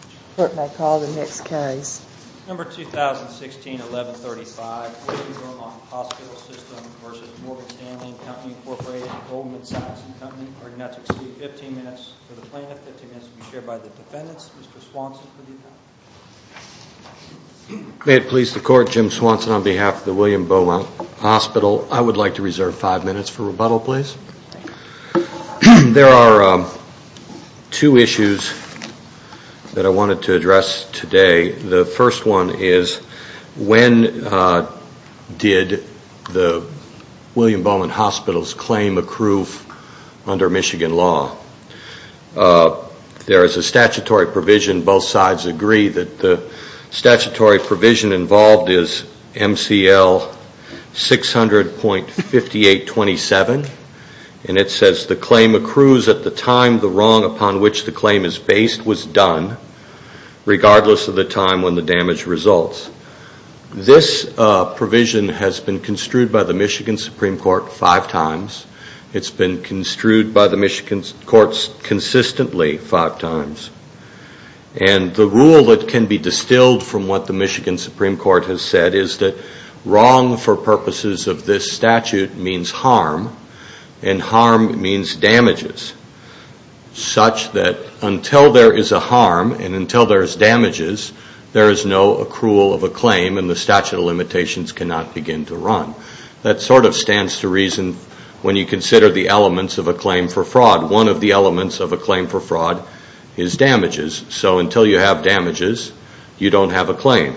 15 minutes for the plaintiff, 15 minutes to be shared by the defendants. Mr. Swanson, would you do that? May it please the Court, Jim Swanson on behalf of the William Beaumont Hospital. I would like to reserve five minutes for rebuttal, please. There are two issues that I wanted to address today. The first one is when did the William Beaumont Hospital's claim accrue under Michigan law? There is a statutory provision, both sides agree that the statutory provision involved is MCL 600.5827, and it says the claim accrues at the time the wrong upon which the claim is based was done, regardless of the time when the damage results. This provision has been construed by the Michigan Supreme Court five times. It's been construed by the Michigan courts consistently five times, and the rule that can be distilled from what the Michigan Supreme Court has said is that wrong for purposes of this statute means harm, and harm means damages. Such that until there is a harm, and until there is damages, there is no accrual of a claim, and the statute of limitations cannot begin to run. That sort of stands to reason when you consider the elements of a claim for fraud. One of the elements of a claim for fraud is damages. So until you have damages, you don't have a claim.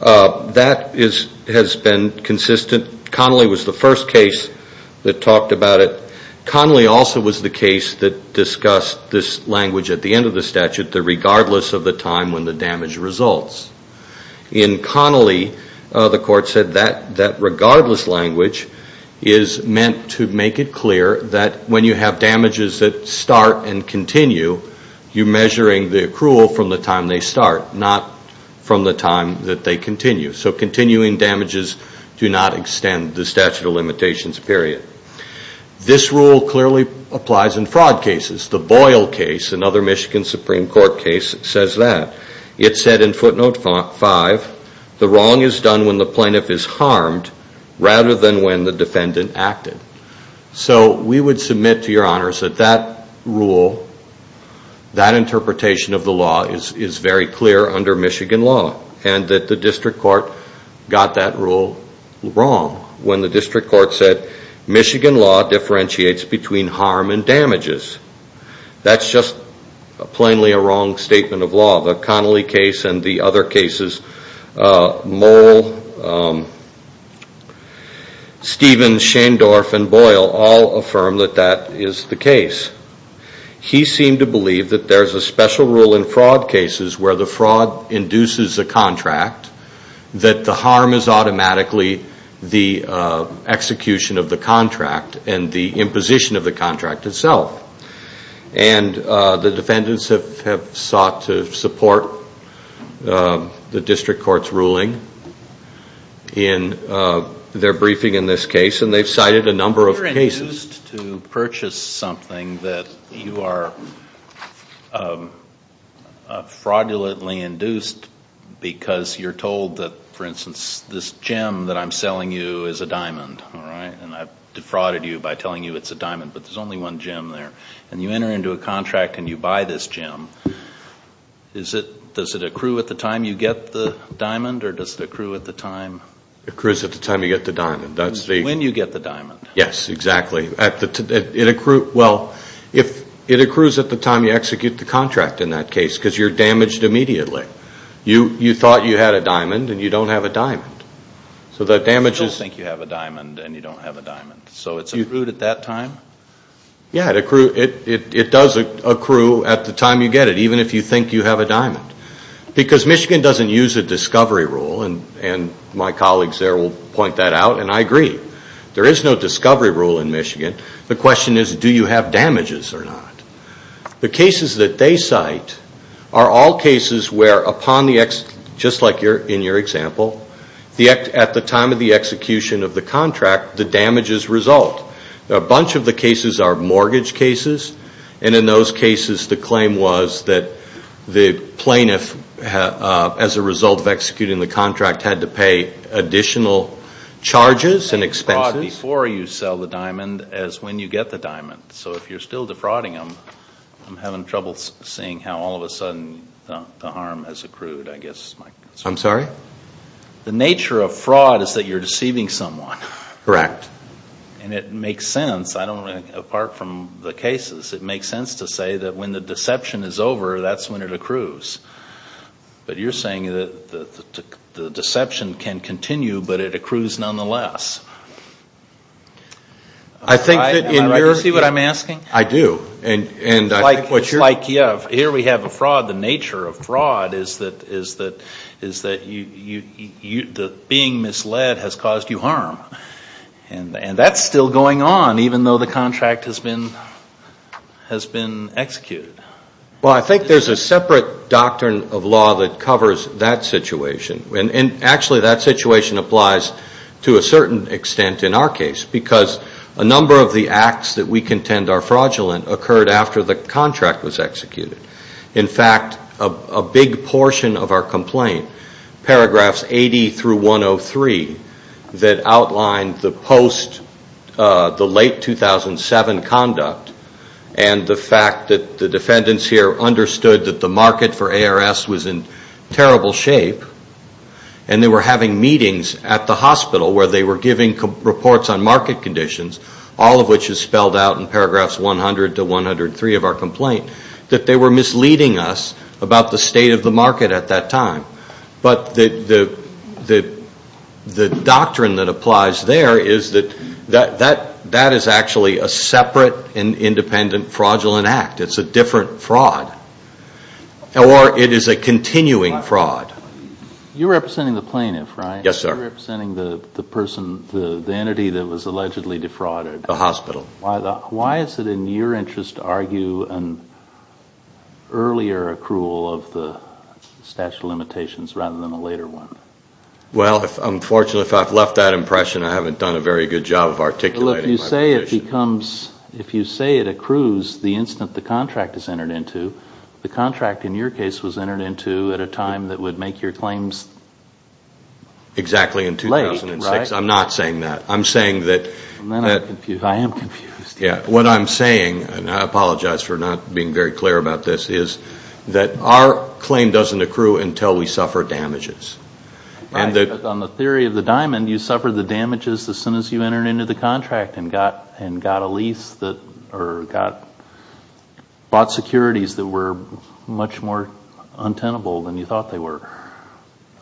That has been consistent. Connolly was the first case that talked about it. Connolly also was the case that discussed this language at the end of the statute, the regardless of the time when the damage results. In Connolly, the court said that regardless language is meant to make it clear that when you have damages that start and continue, you're measuring the accrual from the time they start, not from the time that they continue. So continuing damages do not extend the statute of limitations period. This rule clearly applies in fraud cases. The Boyle case, another Michigan Supreme Court case, says that. It said in footnote 5, the wrong is done when the plaintiff is harmed rather than when the defendant acted. So we would submit to your honors that that rule, that interpretation of the law is very clear under Michigan law and that the district court got that rule wrong when the district court said Michigan law differentiates between harm and damages. That's just plainly a wrong statement of law. The Connolly case and the other cases, Moll, Stevens, Schendorf, and Boyle all affirm that that is the case. He seemed to believe that there's a special rule in fraud cases where the fraud induces a contract that the harm is automatically the execution of the contract and the imposition of the contract itself. The defendants have sought to support the district court's ruling in their briefing in this case and they've cited a number of cases. If you're induced to purchase something that you are fraudulently induced because you're told that, for instance, this gem that I'm selling you is a diamond, and I've defrauded you by telling you it's a diamond, but there's only one gem there, and you enter into a contract and you buy this gem, does it accrue at the time you get the diamond or does it accrue at the time? It accrues at the time you get the diamond. When you get the diamond. Yes, exactly. It accrues at the time you execute the contract in that case because you're damaged immediately. You thought you had a diamond and you don't have a diamond. You don't think you have a diamond and you don't have a diamond, so it's accrued at that time? Yes, it does accrue at the time you get it even if you think you have a diamond because Michigan doesn't use a discovery rule and my colleagues there will point that out and I agree. There is no discovery rule in Michigan. The question is do you have damages or not? The cases that they cite are all cases where, just like in your example, at the time of the execution of the contract, the damages result. A bunch of the cases are mortgage cases, and in those cases the claim was that the plaintiff, as a result of executing the contract, had to pay additional charges and expenses. The nature of fraud before you sell the diamond is when you get the diamond, so if you're still defrauding them, I'm having trouble seeing how all of a sudden the harm has accrued. I'm sorry? The nature of fraud is that you're deceiving someone. Correct. And it makes sense, apart from the cases, it makes sense to say that when the deception is over, that's when it accrues. But you're saying that the deception can continue but it accrues nonetheless. I think that in your... Do you see what I'm asking? I do. Like here we have a fraud, the nature of fraud is that being misled has caused you harm. And that's still going on, even though the contract has been executed. Well, I think there's a separate doctrine of law that covers that situation. And actually that situation applies to a certain extent in our case, because a number of the acts that we contend are fraudulent occurred after the contract was executed. In fact, a big portion of our complaint, paragraphs 80 through 103, that outlined the post, the late 2007 conduct, and the fact that the defendants here understood that the market for ARS was in terrible shape, and they were having meetings at the hospital where they were giving reports on market conditions, all of which is spelled out in paragraphs 100 to 103 of our complaint, that they were misleading us about the state of the market at that time. But the doctrine that applies there is that that is actually a separate and independent fraudulent act. It's a different fraud. Or it is a continuing fraud. You're representing the plaintiff, right? Yes, sir. You're representing the entity that was allegedly defrauded. The hospital. Why is it in your interest to argue an earlier accrual of the statute of limitations rather than a later one? Well, unfortunately, if I've left that impression, I haven't done a very good job of articulating my position. Well, if you say it accrues the instant the contract is entered into, the contract in your case was entered into at a time that would make your claims late, right? Exactly in 2006. I'm not saying that. I'm saying that... And then I'm confused. I am confused. Yeah. What I'm saying, and I apologize for not being very clear about this, is that our claim doesn't accrue until we suffer damages. Right. But on the theory of the diamond, you suffered the damages as soon as you entered into the contract and got a lease or bought securities that were much more untenable than you thought they were.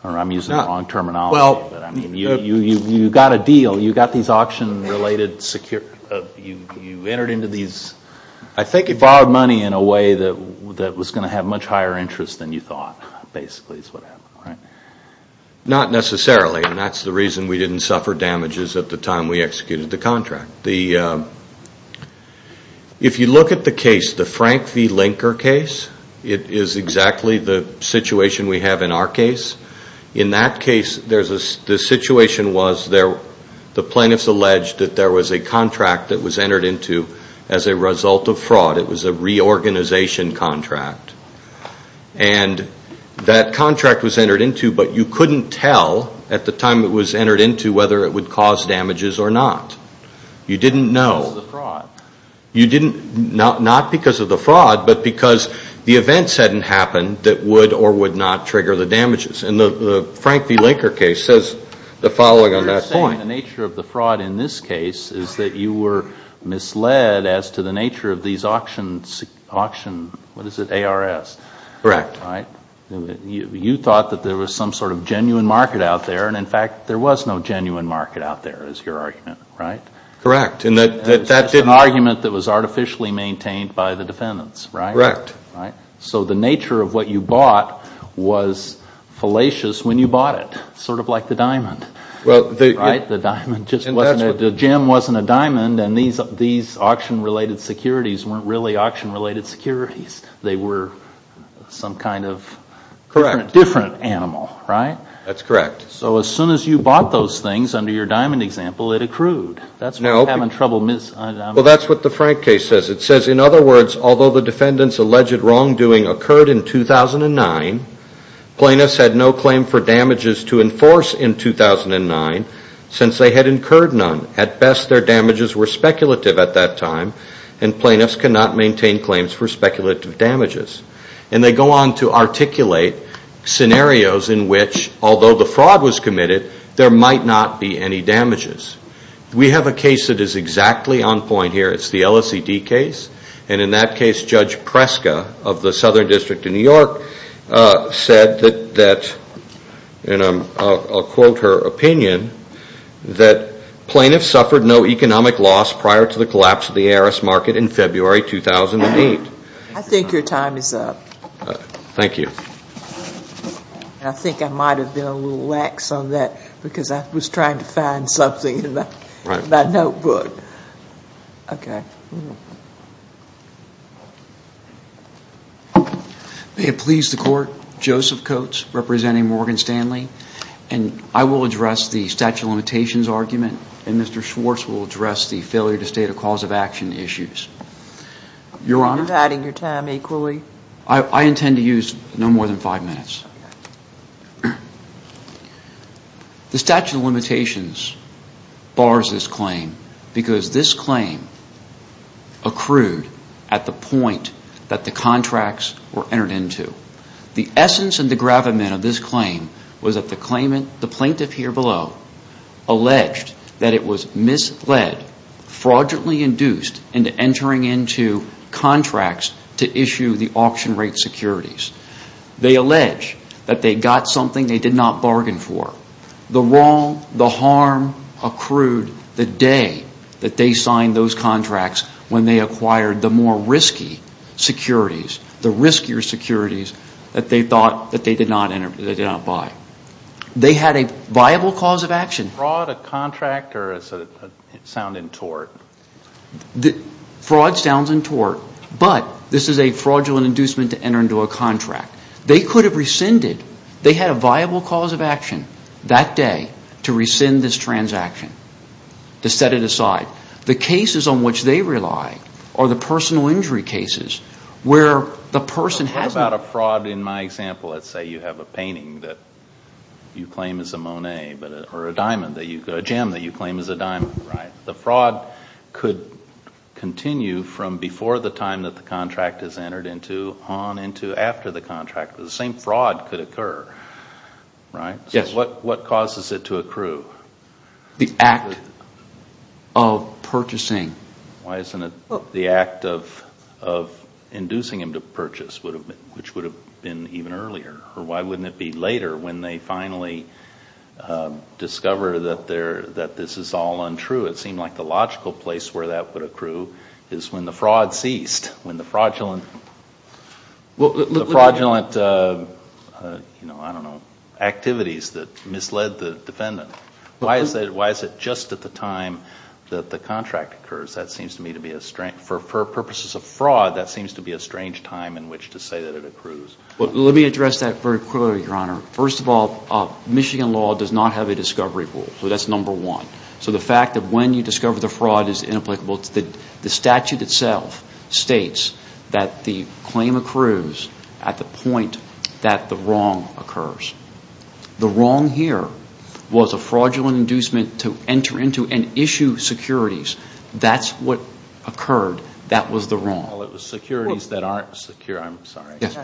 Or I'm using the wrong terminology. Well... You got a deal. You got these auction-related securities. You entered into these... I think it... Borrowed money in a way that was going to have much higher interest than you thought, basically, is what happened, right? Not necessarily, and that's the reason we didn't suffer damages at the time we executed the contract. If you look at the case, the Frank v. Linker case, it is exactly the situation we have in our case. In that case, the situation was the plaintiffs alleged that there was a contract that was entered into as a result of fraud. It was a reorganization contract. And that contract was entered into, but you couldn't tell at the time it was entered into whether it would cause damages or not. You didn't know. Because of the fraud. Not because of the fraud, but because the events hadn't happened that would or would not trigger the damages. And the Frank v. Linker case says the following on that point. What you're saying, the nature of the fraud in this case, is that you were misled as to the nature of these auction... What is it? ARS. Correct. You thought that there was some sort of genuine market out there, and in fact, there was no genuine market out there, is your argument, right? Correct. It's an argument that was artificially maintained by the defendants, right? Correct. So the nature of what you bought was fallacious when you bought it. Sort of like the diamond. Right? The gem wasn't a diamond, and these auction-related securities weren't really auction-related securities. They were some kind of different animal, right? That's correct. So as soon as you bought those things, under your diamond example, it accrued. That's why you're having trouble mis... Well, that's what the Frank case says. It says, in other words, although the defendant's alleged wrongdoing occurred in 2009, plaintiffs had no claim for damages to enforce in 2009 since they had incurred none. At best, their damages were speculative at that time, and plaintiffs cannot maintain claims for speculative damages. And they go on to articulate scenarios in which, although the fraud was committed, there might not be any damages. We have a case that is exactly on point here. It's the LSED case, and in that case, Judge Preska of the Southern District of New York said that, and I'll quote her opinion, that plaintiffs suffered no economic loss prior to the collapse of the ARS market in February 2008. I think your time is up. Thank you. I think I might have been a little lax on that because I was trying to find something in my notebook. Okay. May it please the Court, Joseph Coates representing Morgan Stanley, and I will address the statute of limitations argument, and Mr. Schwartz will address the failure to state a cause of action issues. Your Honor? You're adding your time equally. I intend to use no more than five minutes. The statute of limitations bars this claim because this claim accrued at the point that the contracts were entered into. The essence and the gravamen of this claim was that the plaintiff here below alleged that it was misled, fraudulently induced into entering into contracts to issue the auction rate securities. They allege that they got something they did not bargain for. The wrong, the harm accrued the day that they signed those contracts when they acquired the more risky securities, the riskier securities that they thought that they did not buy. They had a viable cause of action. Fraud, a contract, or does it sound in tort? Fraud sounds in tort, but this is a fraudulent inducement to enter into a contract. They could have rescinded. They had a viable cause of action that day to rescind this transaction, to set it aside. The cases on which they rely are the personal injury cases where the person hasn't. What about a fraud in my example? Let's say you have a painting that you claim is a Monet or a diamond, a gem that you claim is a diamond, right? The fraud could continue from before the time that the contract is entered into on into after the contract. The same fraud could occur, right? Yes. What causes it to accrue? The act of purchasing. Why isn't it the act of inducing him to purchase, which would have been even earlier? Or why wouldn't it be later when they finally discover that this is all untrue? It seemed like the logical place where that would accrue is when the fraud ceased, when the fraudulent activities that misled the defendant. Why is it just at the time that the contract occurs? For purposes of fraud, that seems to be a strange time in which to say that it accrues. Let me address that very quickly, Your Honor. First of all, Michigan law does not have a discovery rule. That's number one. So the fact that when you discover the fraud is inapplicable, the statute itself states that the claim accrues at the point that the wrong occurs. The wrong here was a fraudulent inducement to enter into and issue securities. That's what occurred. That was the wrong. Well, it was securities that aren't secure. I'm sorry. Yes.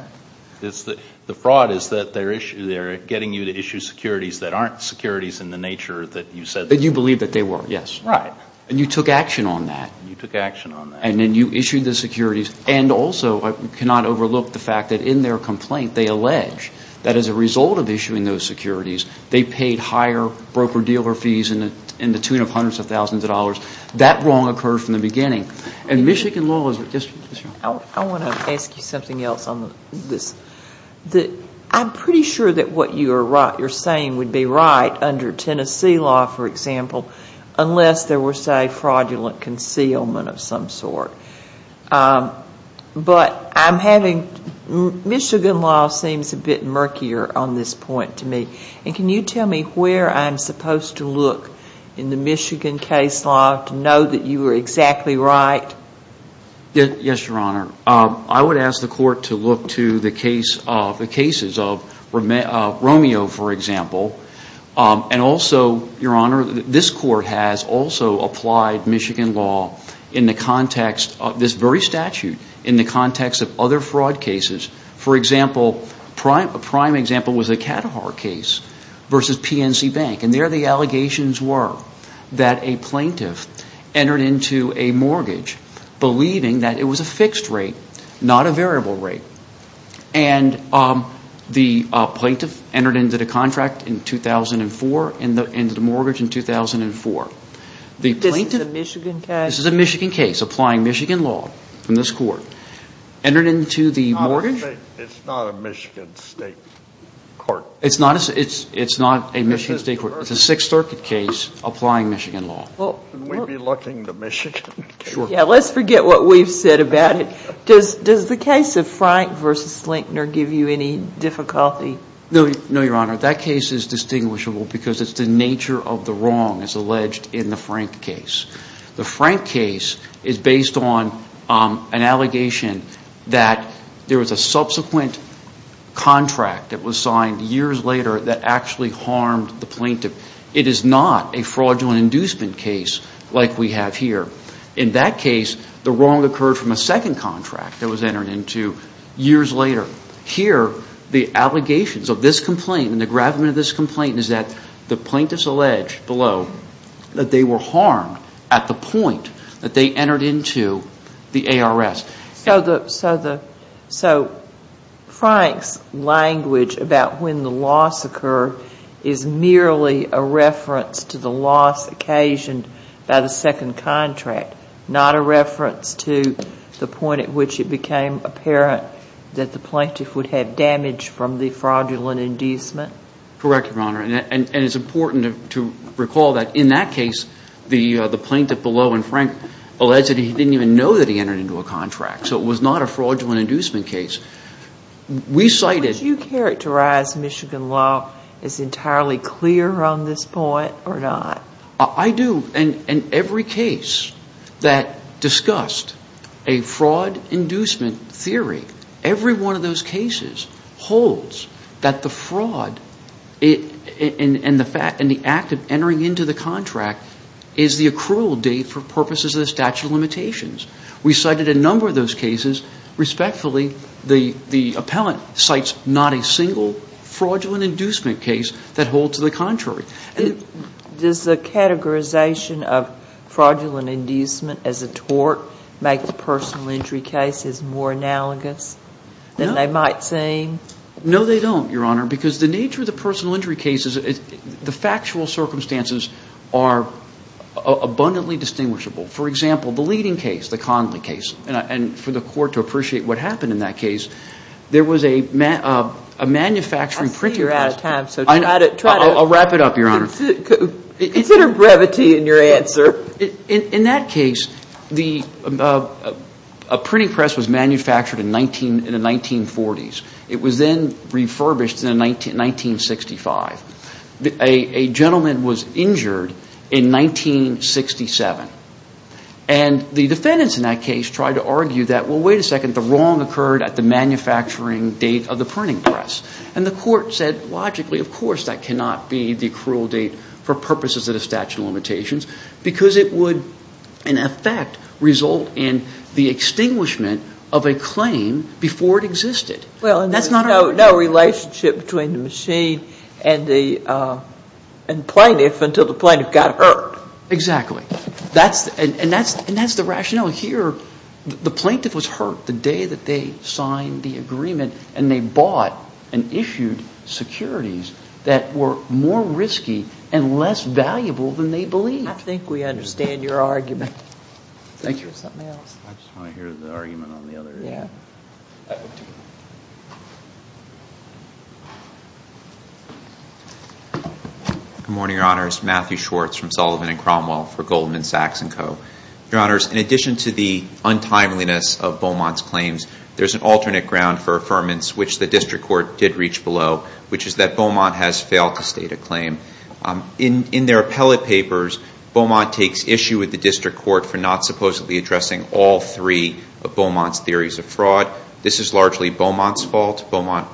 The fraud is that they're getting you to issue securities that aren't securities in the nature that you said they were. That you believe that they were. Yes. Right. And you took action on that. You took action on that. And then you issued the securities. And also, I cannot overlook the fact that in their complaint, they allege that as a result of issuing those securities, they paid higher broker-dealer fees in the tune of hundreds of thousands of dollars. That wrong occurred from the beginning. And Michigan law is just – I want to ask you something else on this. I'm pretty sure that what you're saying would be right under Tennessee law, for example, unless there were, say, fraudulent concealment of some sort. But I'm having – Michigan law seems a bit murkier on this point to me. And can you tell me where I'm supposed to look in the Michigan case law to know that you were exactly right? Yes, Your Honor. I would ask the court to look to the case of – the cases of Romeo, for example. And also, Your Honor, this court has also applied Michigan law in the context of this very statute, in the context of other fraud cases. For example, a prime example was the Kadahar case versus PNC Bank. And there the allegations were that a plaintiff entered into a mortgage believing that it was a fixed rate, not a variable rate. And the plaintiff entered into the contract in 2004 and the mortgage in 2004. This is a Michigan case? This is a Michigan case, applying Michigan law in this court. Entered into the mortgage – It's not a Michigan State court. It's not a Michigan State court. It's a Sixth Circuit case, applying Michigan law. Can we be looking to Michigan? Sure. Yeah, let's forget what we've said about it. Does the case of Frank versus Slinkner give you any difficulty? No, Your Honor. That case is distinguishable because it's the nature of the wrong as alleged in the Frank case. The Frank case is based on an allegation that there was a subsequent contract that was signed years later that actually harmed the plaintiff. It is not a fraudulent inducement case like we have here. In that case, the wrong occurred from a second contract that was entered into years later. Here, the allegations of this complaint and the gravamen of this complaint is that the plaintiffs allege below that they were harmed at the point that they entered into the ARS. So Frank's language about when the loss occurred is merely a reference to the loss occasioned by the second contract, not a reference to the point at which it became apparent that the plaintiff would have damage from the fraudulent inducement? Correct, Your Honor, and it's important to recall that in that case, the plaintiff below in Frank alleged that he didn't even know that he entered into a contract. So it was not a fraudulent inducement case. Would you characterize Michigan law as entirely clear on this point or not? I do, and every case that discussed a fraud inducement theory, every one of those cases holds that the fraud and the act of entering into the contract is the accrual date for purposes of the statute of limitations. We cited a number of those cases. Respectfully, the appellant cites not a single fraudulent inducement case that holds to the contrary. Does the categorization of fraudulent inducement as a tort make the personal injury cases more analogous than they might seem? No, they don't, Your Honor, because the nature of the personal injury cases, the factual circumstances are abundantly distinguishable. For example, the leading case, the Conley case, and for the court to appreciate what happened in that case, there was a manufacturing printer. I'll wrap it up, Your Honor. Consider brevity in your answer. In that case, a printing press was manufactured in the 1940s. It was then refurbished in 1965. A gentleman was injured in 1967. And the defendants in that case tried to argue that, well, wait a second, the wrong occurred at the manufacturing date of the printing press. And the court said logically, of course, that cannot be the cruel date for purposes of the statute of limitations, because it would, in effect, result in the extinguishment of a claim before it existed. Well, and there was no relationship between the machine and the plaintiff until the plaintiff got hurt. Exactly. And that's the rationale here. The plaintiff was hurt the day that they signed the agreement and they bought and issued securities that were more risky and less valuable than they believed. I think we understand your argument. Thank you. I just want to hear the argument on the other end. Yeah. Good morning, Your Honors. Matthew Schwartz from Sullivan and Cromwell for Goldman Sachs & Co. Your Honors, in addition to the untimeliness of Beaumont's claims, there's an alternate ground for affirmance, which the district court did reach below, which is that Beaumont has failed to state a claim. In their appellate papers, Beaumont takes issue with the district court for not supposedly addressing all three of Beaumont's theories of fraud. This is largely Beaumont's fault. Beaumont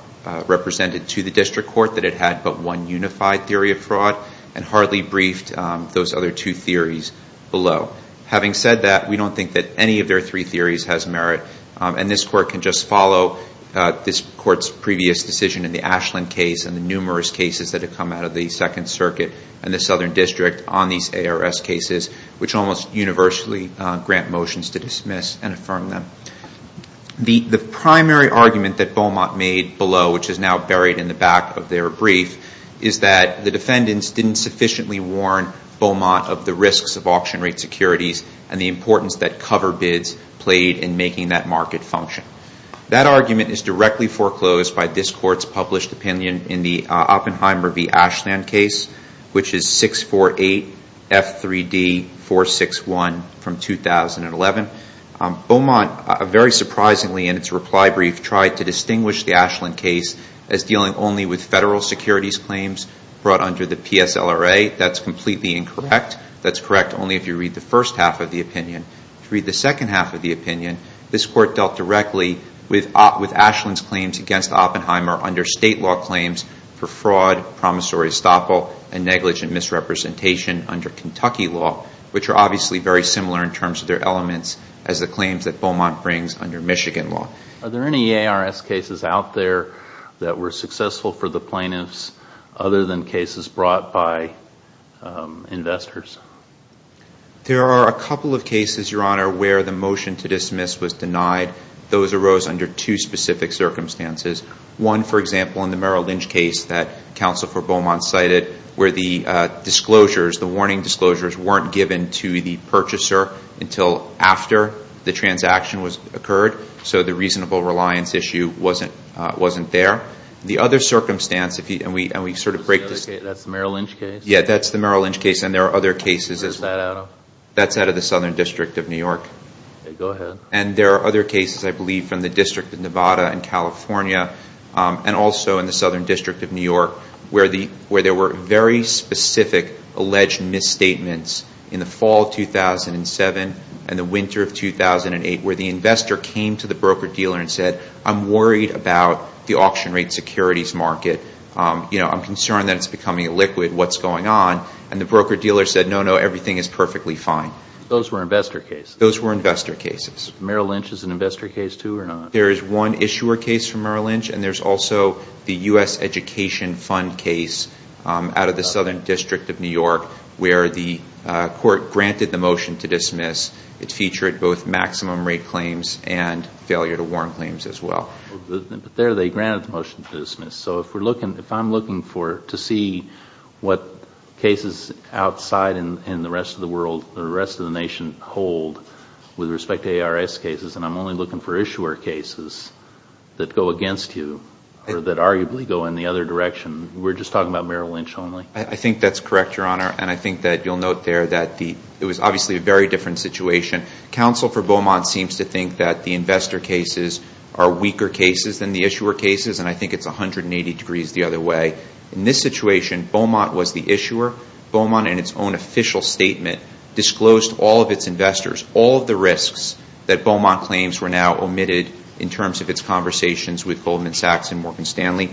represented to the district court that it had but one unified theory of fraud and hardly briefed those other two theories below. Having said that, we don't think that any of their three theories has merit, and this court can just follow this court's previous decision in the Ashland case and the numerous cases that have come out of the Second Circuit and the Southern District on these ARS cases, which almost universally grant motions to dismiss and affirm them. The primary argument that Beaumont made below, which is now buried in the back of their brief, is that the defendants didn't sufficiently warn Beaumont of the risks of auction rate securities and the importance that cover bids played in making that market function. That argument is directly foreclosed by this court's published opinion in the Oppenheimer v. Ashland case, which is 648F3D461 from 2011. Beaumont, very surprisingly in its reply brief, tried to distinguish the Ashland case as dealing only with federal securities claims brought under the PSLRA. That's completely incorrect. That's correct only if you read the first half of the opinion. If you read the second half of the opinion, this court dealt directly with Ashland's claims against Oppenheimer under state law claims for fraud, promissory estoppel, and negligent misrepresentation under Kentucky law, which are obviously very similar in terms of their elements as the claims that Beaumont brings under Michigan law. Are there any ARS cases out there that were successful for the plaintiffs other than cases brought by investors? There are a couple of cases, Your Honor, where the motion to dismiss was denied. Those arose under two specific circumstances. One, for example, in the Merrill Lynch case that counsel for Beaumont cited, where the disclosures, the warning disclosures, weren't given to the purchaser until after the transaction occurred, so the reasonable reliance issue wasn't there. The other circumstance, and we sort of break this down. That's the Merrill Lynch case? Yeah, that's the Merrill Lynch case, and there are other cases. Where is that out of? That's out of the Southern District of New York. Okay, go ahead. And there are other cases, I believe, from the District of Nevada in California and also in the Southern District of New York where there were very specific alleged misstatements in the fall of 2007 and the winter of 2008 where the investor came to the broker-dealer and said, I'm worried about the auction rate securities market. I'm concerned that it's becoming illiquid. What's going on? And the broker-dealer said, no, no, everything is perfectly fine. Those were investor cases? Those were investor cases. Merrill Lynch is an investor case, too, or not? There is one issuer case from Merrill Lynch, and there's also the U.S. Education Fund case out of the Southern District of New York where the court granted the motion to dismiss. It featured both maximum rate claims and failure to warrant claims as well. There they granted the motion to dismiss. So if I'm looking to see what cases outside in the rest of the world, the rest of the nation, with respect to ARS cases, and I'm only looking for issuer cases that go against you or that arguably go in the other direction, we're just talking about Merrill Lynch only? I think that's correct, Your Honor, and I think that you'll note there that it was obviously a very different situation. Counsel for Beaumont seems to think that the investor cases are weaker cases than the issuer cases, and I think it's 180 degrees the other way. In this situation, Beaumont was the issuer. Beaumont in its own official statement disclosed all of its investors, all of the risks that Beaumont claims were now omitted in terms of its conversations with Goldman Sachs and Morgan Stanley.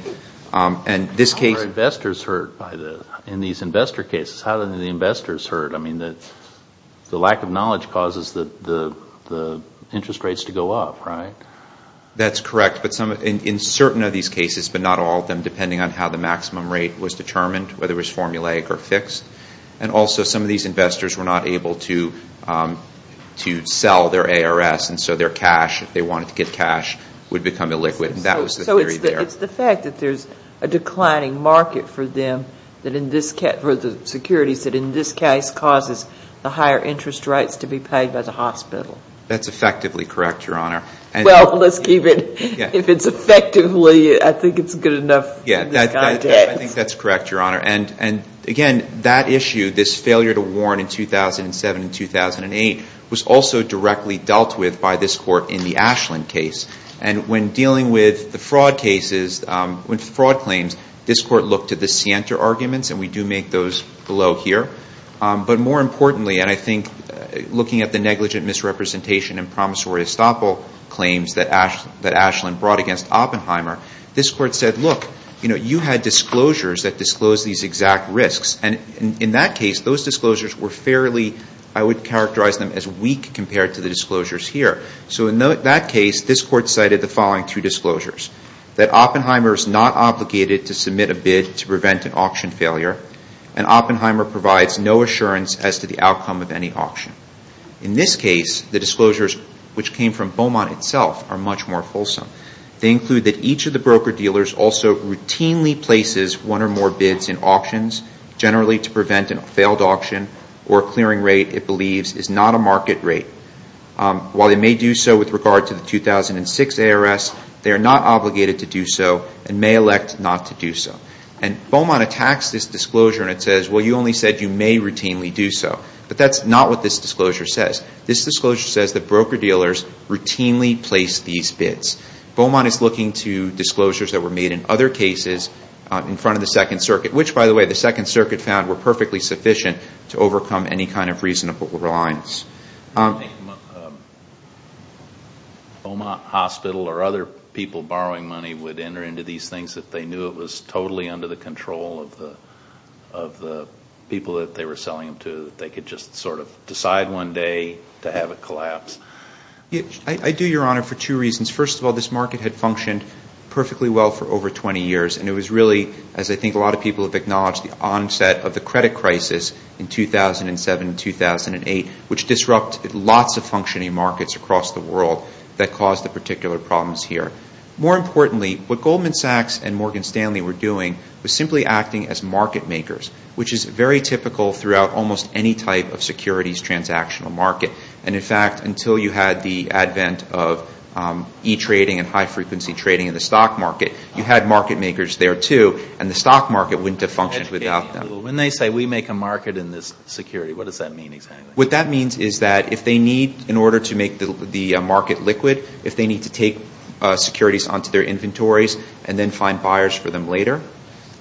How are investors hurt in these investor cases? How are the investors hurt? I mean, the lack of knowledge causes the interest rates to go up, right? That's correct. In certain of these cases, but not all of them, depending on how the maximum rate was determined, whether it was formulaic or fixed, and also some of these investors were not able to sell their ARS, and so their cash, if they wanted to get cash, would become illiquid, and that was the theory there. So it's the fact that there's a declining market for them, for the securities, that in this case causes the higher interest rates to be paid by the hospital. That's effectively correct, Your Honor. Well, let's keep it. If it's effectively, I think it's good enough in this context. I think that's correct, Your Honor. And, again, that issue, this failure to warn in 2007 and 2008, was also directly dealt with by this Court in the Ashland case. And when dealing with the fraud cases, with fraud claims, this Court looked to the Sienta arguments, and we do make those below here. But more importantly, and I think looking at the negligent misrepresentation and promissory estoppel claims that Ashland brought against Oppenheimer, this Court said, look, you had disclosures that disclosed these exact risks. And in that case, those disclosures were fairly, I would characterize them as weak, compared to the disclosures here. So in that case, this Court cited the following two disclosures, that Oppenheimer is not obligated to submit a bid to prevent an auction failure, and Oppenheimer provides no assurance as to the outcome of any auction. In this case, the disclosures, which came from Beaumont itself, are much more fulsome. They include that each of the broker-dealers also routinely places one or more bids in auctions, generally to prevent a failed auction, or a clearing rate it believes is not a market rate. While they may do so with regard to the 2006 ARS, they are not obligated to do so, and may elect not to do so. And Beaumont attacks this disclosure and it says, well, you only said you may routinely do so. But that's not what this disclosure says. This disclosure says that broker-dealers routinely place these bids. Beaumont is looking to disclosures that were made in other cases in front of the Second Circuit, which, by the way, the Second Circuit found were perfectly sufficient to overcome any kind of reasonable reliance. I don't think Beaumont Hospital or other people borrowing money would enter into these things if they knew it was totally under the control of the people that they were selling them to, that they could just sort of decide one day to have it collapse. I do, Your Honor, for two reasons. First of all, this market had functioned perfectly well for over 20 years, and it was really, as I think a lot of people have acknowledged, the onset of the credit crisis in 2007 and 2008, which disrupted lots of functioning markets across the world that caused the particular problems here. More importantly, what Goldman Sachs and Morgan Stanley were doing was simply acting as market makers, which is very typical throughout almost any type of securities transactional market. And, in fact, until you had the advent of e-trading and high-frequency trading in the stock market, you had market makers there, too, and the stock market wouldn't have functioned without them. When they say we make a market in this security, what does that mean exactly? What that means is that if they need, in order to make the market liquid, if they need to take securities onto their inventories and then find buyers for them later,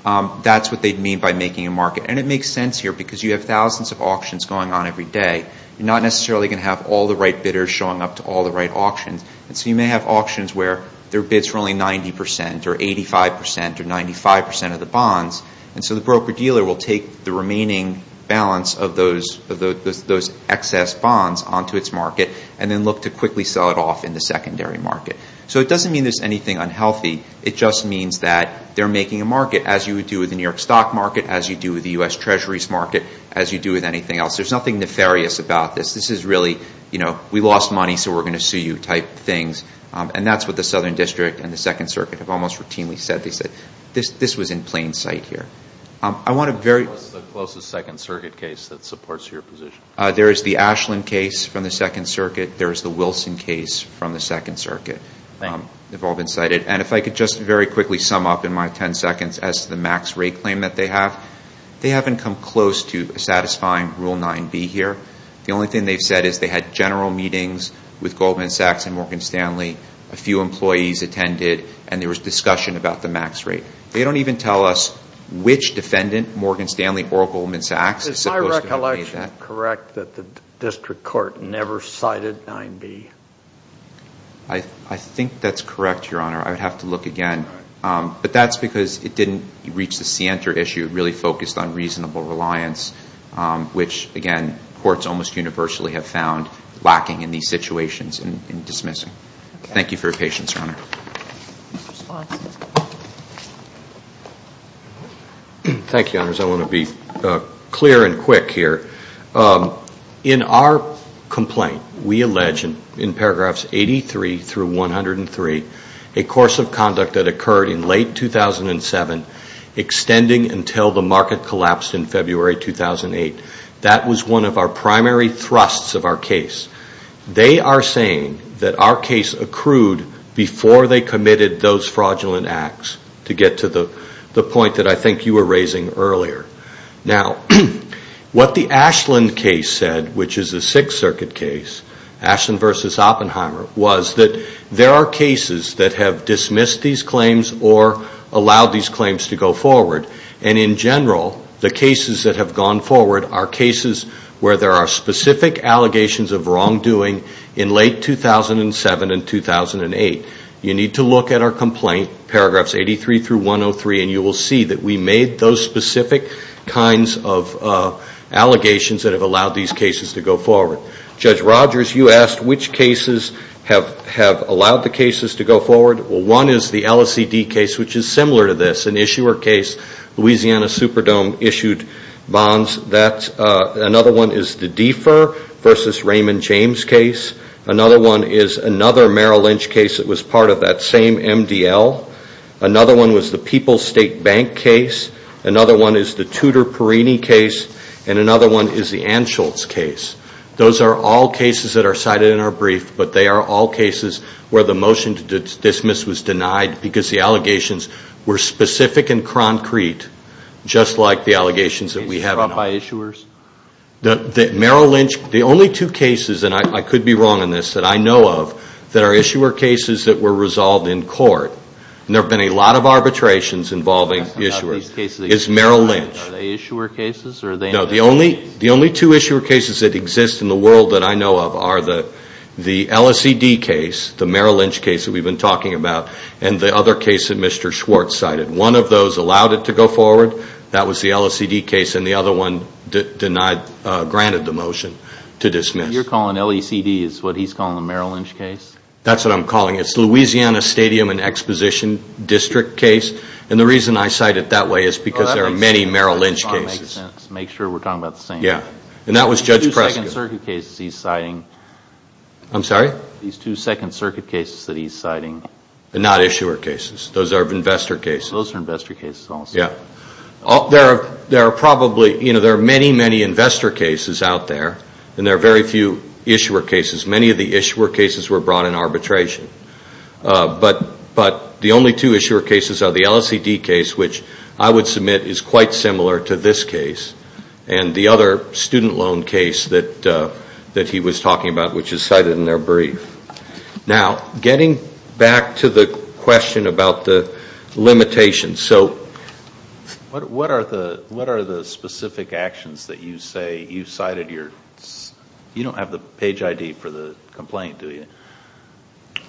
that's what they'd mean by making a market. And it makes sense here because you have thousands of auctions going on every day. You're not necessarily going to have all the right bidders showing up to all the right auctions. And so you may have auctions where there are bids for only 90 percent or 85 percent or 95 percent of the bonds, and so the broker-dealer will take the remaining balance of those excess bonds onto its market and then look to quickly sell it off in the secondary market. So it doesn't mean there's anything unhealthy. It just means that they're making a market, as you would do with the New York stock market, as you do with the U.S. Treasury's market, as you do with anything else. There's nothing nefarious about this. This is really, you know, we lost money so we're going to sue you type things. And that's what the Southern District and the Second Circuit have almost routinely said. They said this was in plain sight here. I want to very – What's the closest Second Circuit case that supports your position? There is the Ashland case from the Second Circuit. There is the Wilson case from the Second Circuit. Thank you. They've all been cited. And if I could just very quickly sum up in my 10 seconds as to the max rate claim that they have, they haven't come close to satisfying Rule 9B here. The only thing they've said is they had general meetings with Goldman Sachs and Morgan Stanley, a few employees attended, and there was discussion about the max rate. They don't even tell us which defendant, Morgan Stanley or Goldman Sachs, is supposed to have made that. Is my recollection correct that the district court never cited 9B? I think that's correct, Your Honor. I would have to look again. But that's because it didn't reach the scienter issue. It really focused on reasonable reliance, which, again, courts almost universally have found lacking in these situations in dismissing. Thank you for your patience, Your Honor. Thank you, Your Honors. I want to be clear and quick here. In our complaint, we allege in paragraphs 83 through 103, a course of conduct that occurred in late 2007 extending until the market collapsed in February 2008. That was one of our primary thrusts of our case. They are saying that our case accrued before they committed those fraudulent acts, to get to the point that I think you were raising earlier. Now, what the Ashland case said, which is a Sixth Circuit case, Ashland v. Oppenheimer, was that there are cases that have dismissed these claims or allowed these claims to go forward. And in general, the cases that have gone forward are cases where there are specific allegations of wrongdoing in late 2007 and 2008. You need to look at our complaint, paragraphs 83 through 103, and you will see that we made those specific kinds of allegations that have allowed these cases to go forward. Judge Rogers, you asked which cases have allowed the cases to go forward. Well, one is the LACD case, which is similar to this, an issuer case. Louisiana Superdome issued bonds. Another one is the Defer v. Raymond James case. Another one is another Merrill Lynch case that was part of that same MDL. Another one was the People's State Bank case. Another one is the Tudor-Perini case. And another one is the Anschultz case. Those are all cases that are cited in our brief, but they are all cases where the motion to dismiss was denied because the allegations were specific and concrete, just like the allegations that we have now. Is it dropped by issuers? Merrill Lynch, the only two cases, and I could be wrong on this, that I know of, that are issuer cases that were resolved in court. There have been a lot of arbitrations involving issuers. It's Merrill Lynch. Are they issuer cases? No, the only two issuer cases that exist in the world that I know of are the LACD case, the Merrill Lynch case that we've been talking about, and the other case that Mr. Schwartz cited. One of those allowed it to go forward. That was the LACD case, and the other one denied, granted the motion to dismiss. You're calling LACD is what he's calling the Merrill Lynch case? That's what I'm calling it. It's the Louisiana Stadium and Exposition District case, and the reason I cite it that way is because there are many Merrill Lynch cases. Make sure we're talking about the same thing. That was Judge Prescott. These two Second Circuit cases that he's citing. I'm sorry? These two Second Circuit cases that he's citing. They're not issuer cases. Those are investor cases. Those are investor cases, almost. There are many, many investor cases out there, and there are very few issuer cases. Many of the issuer cases were brought in arbitration, but the only two issuer cases are the LACD case, which I would submit is quite similar to this case, and the other student loan case that he was talking about, which is cited in their brief. Now, getting back to the question about the limitations. What are the specific actions that you say you cited? You don't have the page ID for the complaint, do you?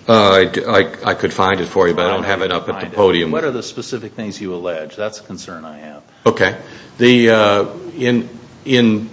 I could find it for you, but I don't have it up at the podium. What are the specific things you allege? That's a concern I have. Okay. Beaumont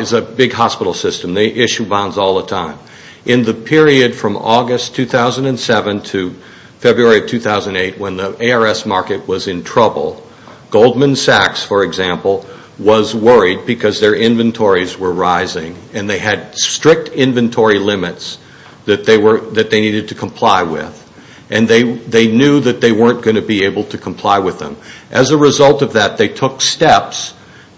is a big hospital system. They issue bonds all the time. In the period from August 2007 to February 2008, when the ARS market was in trouble, Goldman Sachs, for example, was worried because their inventories were rising, and they had strict inventory limits that they needed to comply with, and they knew that they weren't going to be able to comply with them. As a result of that, they took steps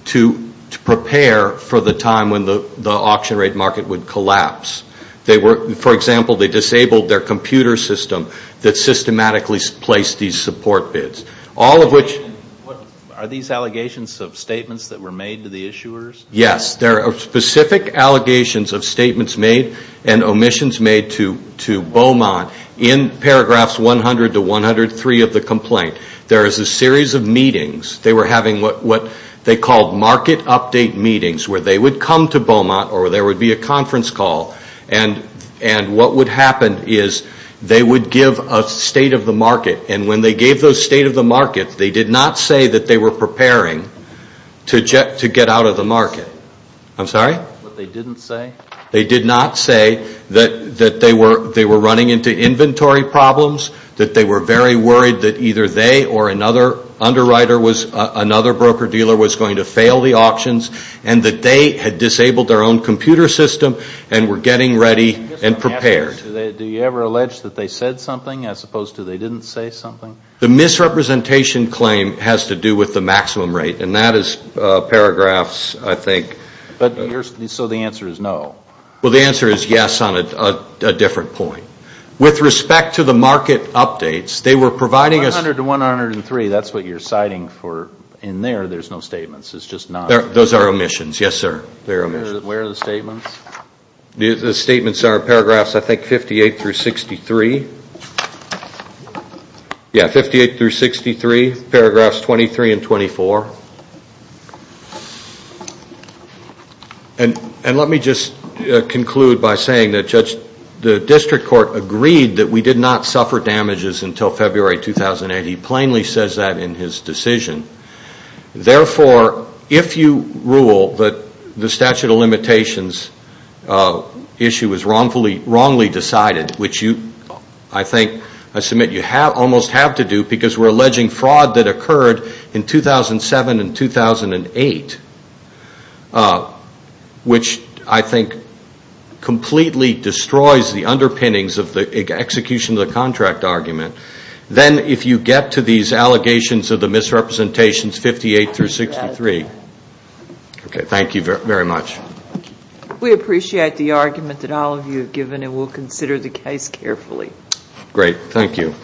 to prepare for the time when the auction rate market would collapse. For example, they disabled their computer system that systematically placed these support bids. Are these allegations of statements that were made to the issuers? Yes. There are specific allegations of statements made and omissions made to Beaumont in paragraphs 100 to 103 of the complaint. There is a series of meetings. They were having what they called market update meetings where they would come to Beaumont or there would be a conference call, and what would happen is they would give a state of the market, and when they gave those state of the markets, they did not say that they were preparing to get out of the market. I'm sorry? They didn't say? They did not say that they were running into inventory problems, that they were very worried that either they or another underwriter, another broker dealer, was going to fail the auctions, and that they had disabled their own computer system and were getting ready and prepared. Do you ever allege that they said something as opposed to they didn't say something? The misrepresentation claim has to do with the maximum rate, and that is paragraphs, I think. So the answer is no? Well, the answer is yes on a different point. With respect to the market updates, they were providing us 100 to 103, that's what you're citing for in there. There's no statements. Those are omissions. Yes, sir. Where are the statements? The statements are paragraphs, I think, 58 through 63. Yeah, 58 through 63, paragraphs 23 and 24. And let me just conclude by saying that, Judge, the district court agreed that we did not suffer damages until February 2008. He plainly says that in his decision. Therefore, if you rule that the statute of limitations issue was wrongly decided, which I think, I submit, you almost have to do, because we're alleging fraud that occurred in 2007 and 2008, which I think completely destroys the underpinnings of the execution of the contract argument, then if you get to these allegations of the misrepresentations, 58 through 63. Okay, thank you very much. We appreciate the argument that all of you have given, and we'll consider the case carefully. Great. Thank you.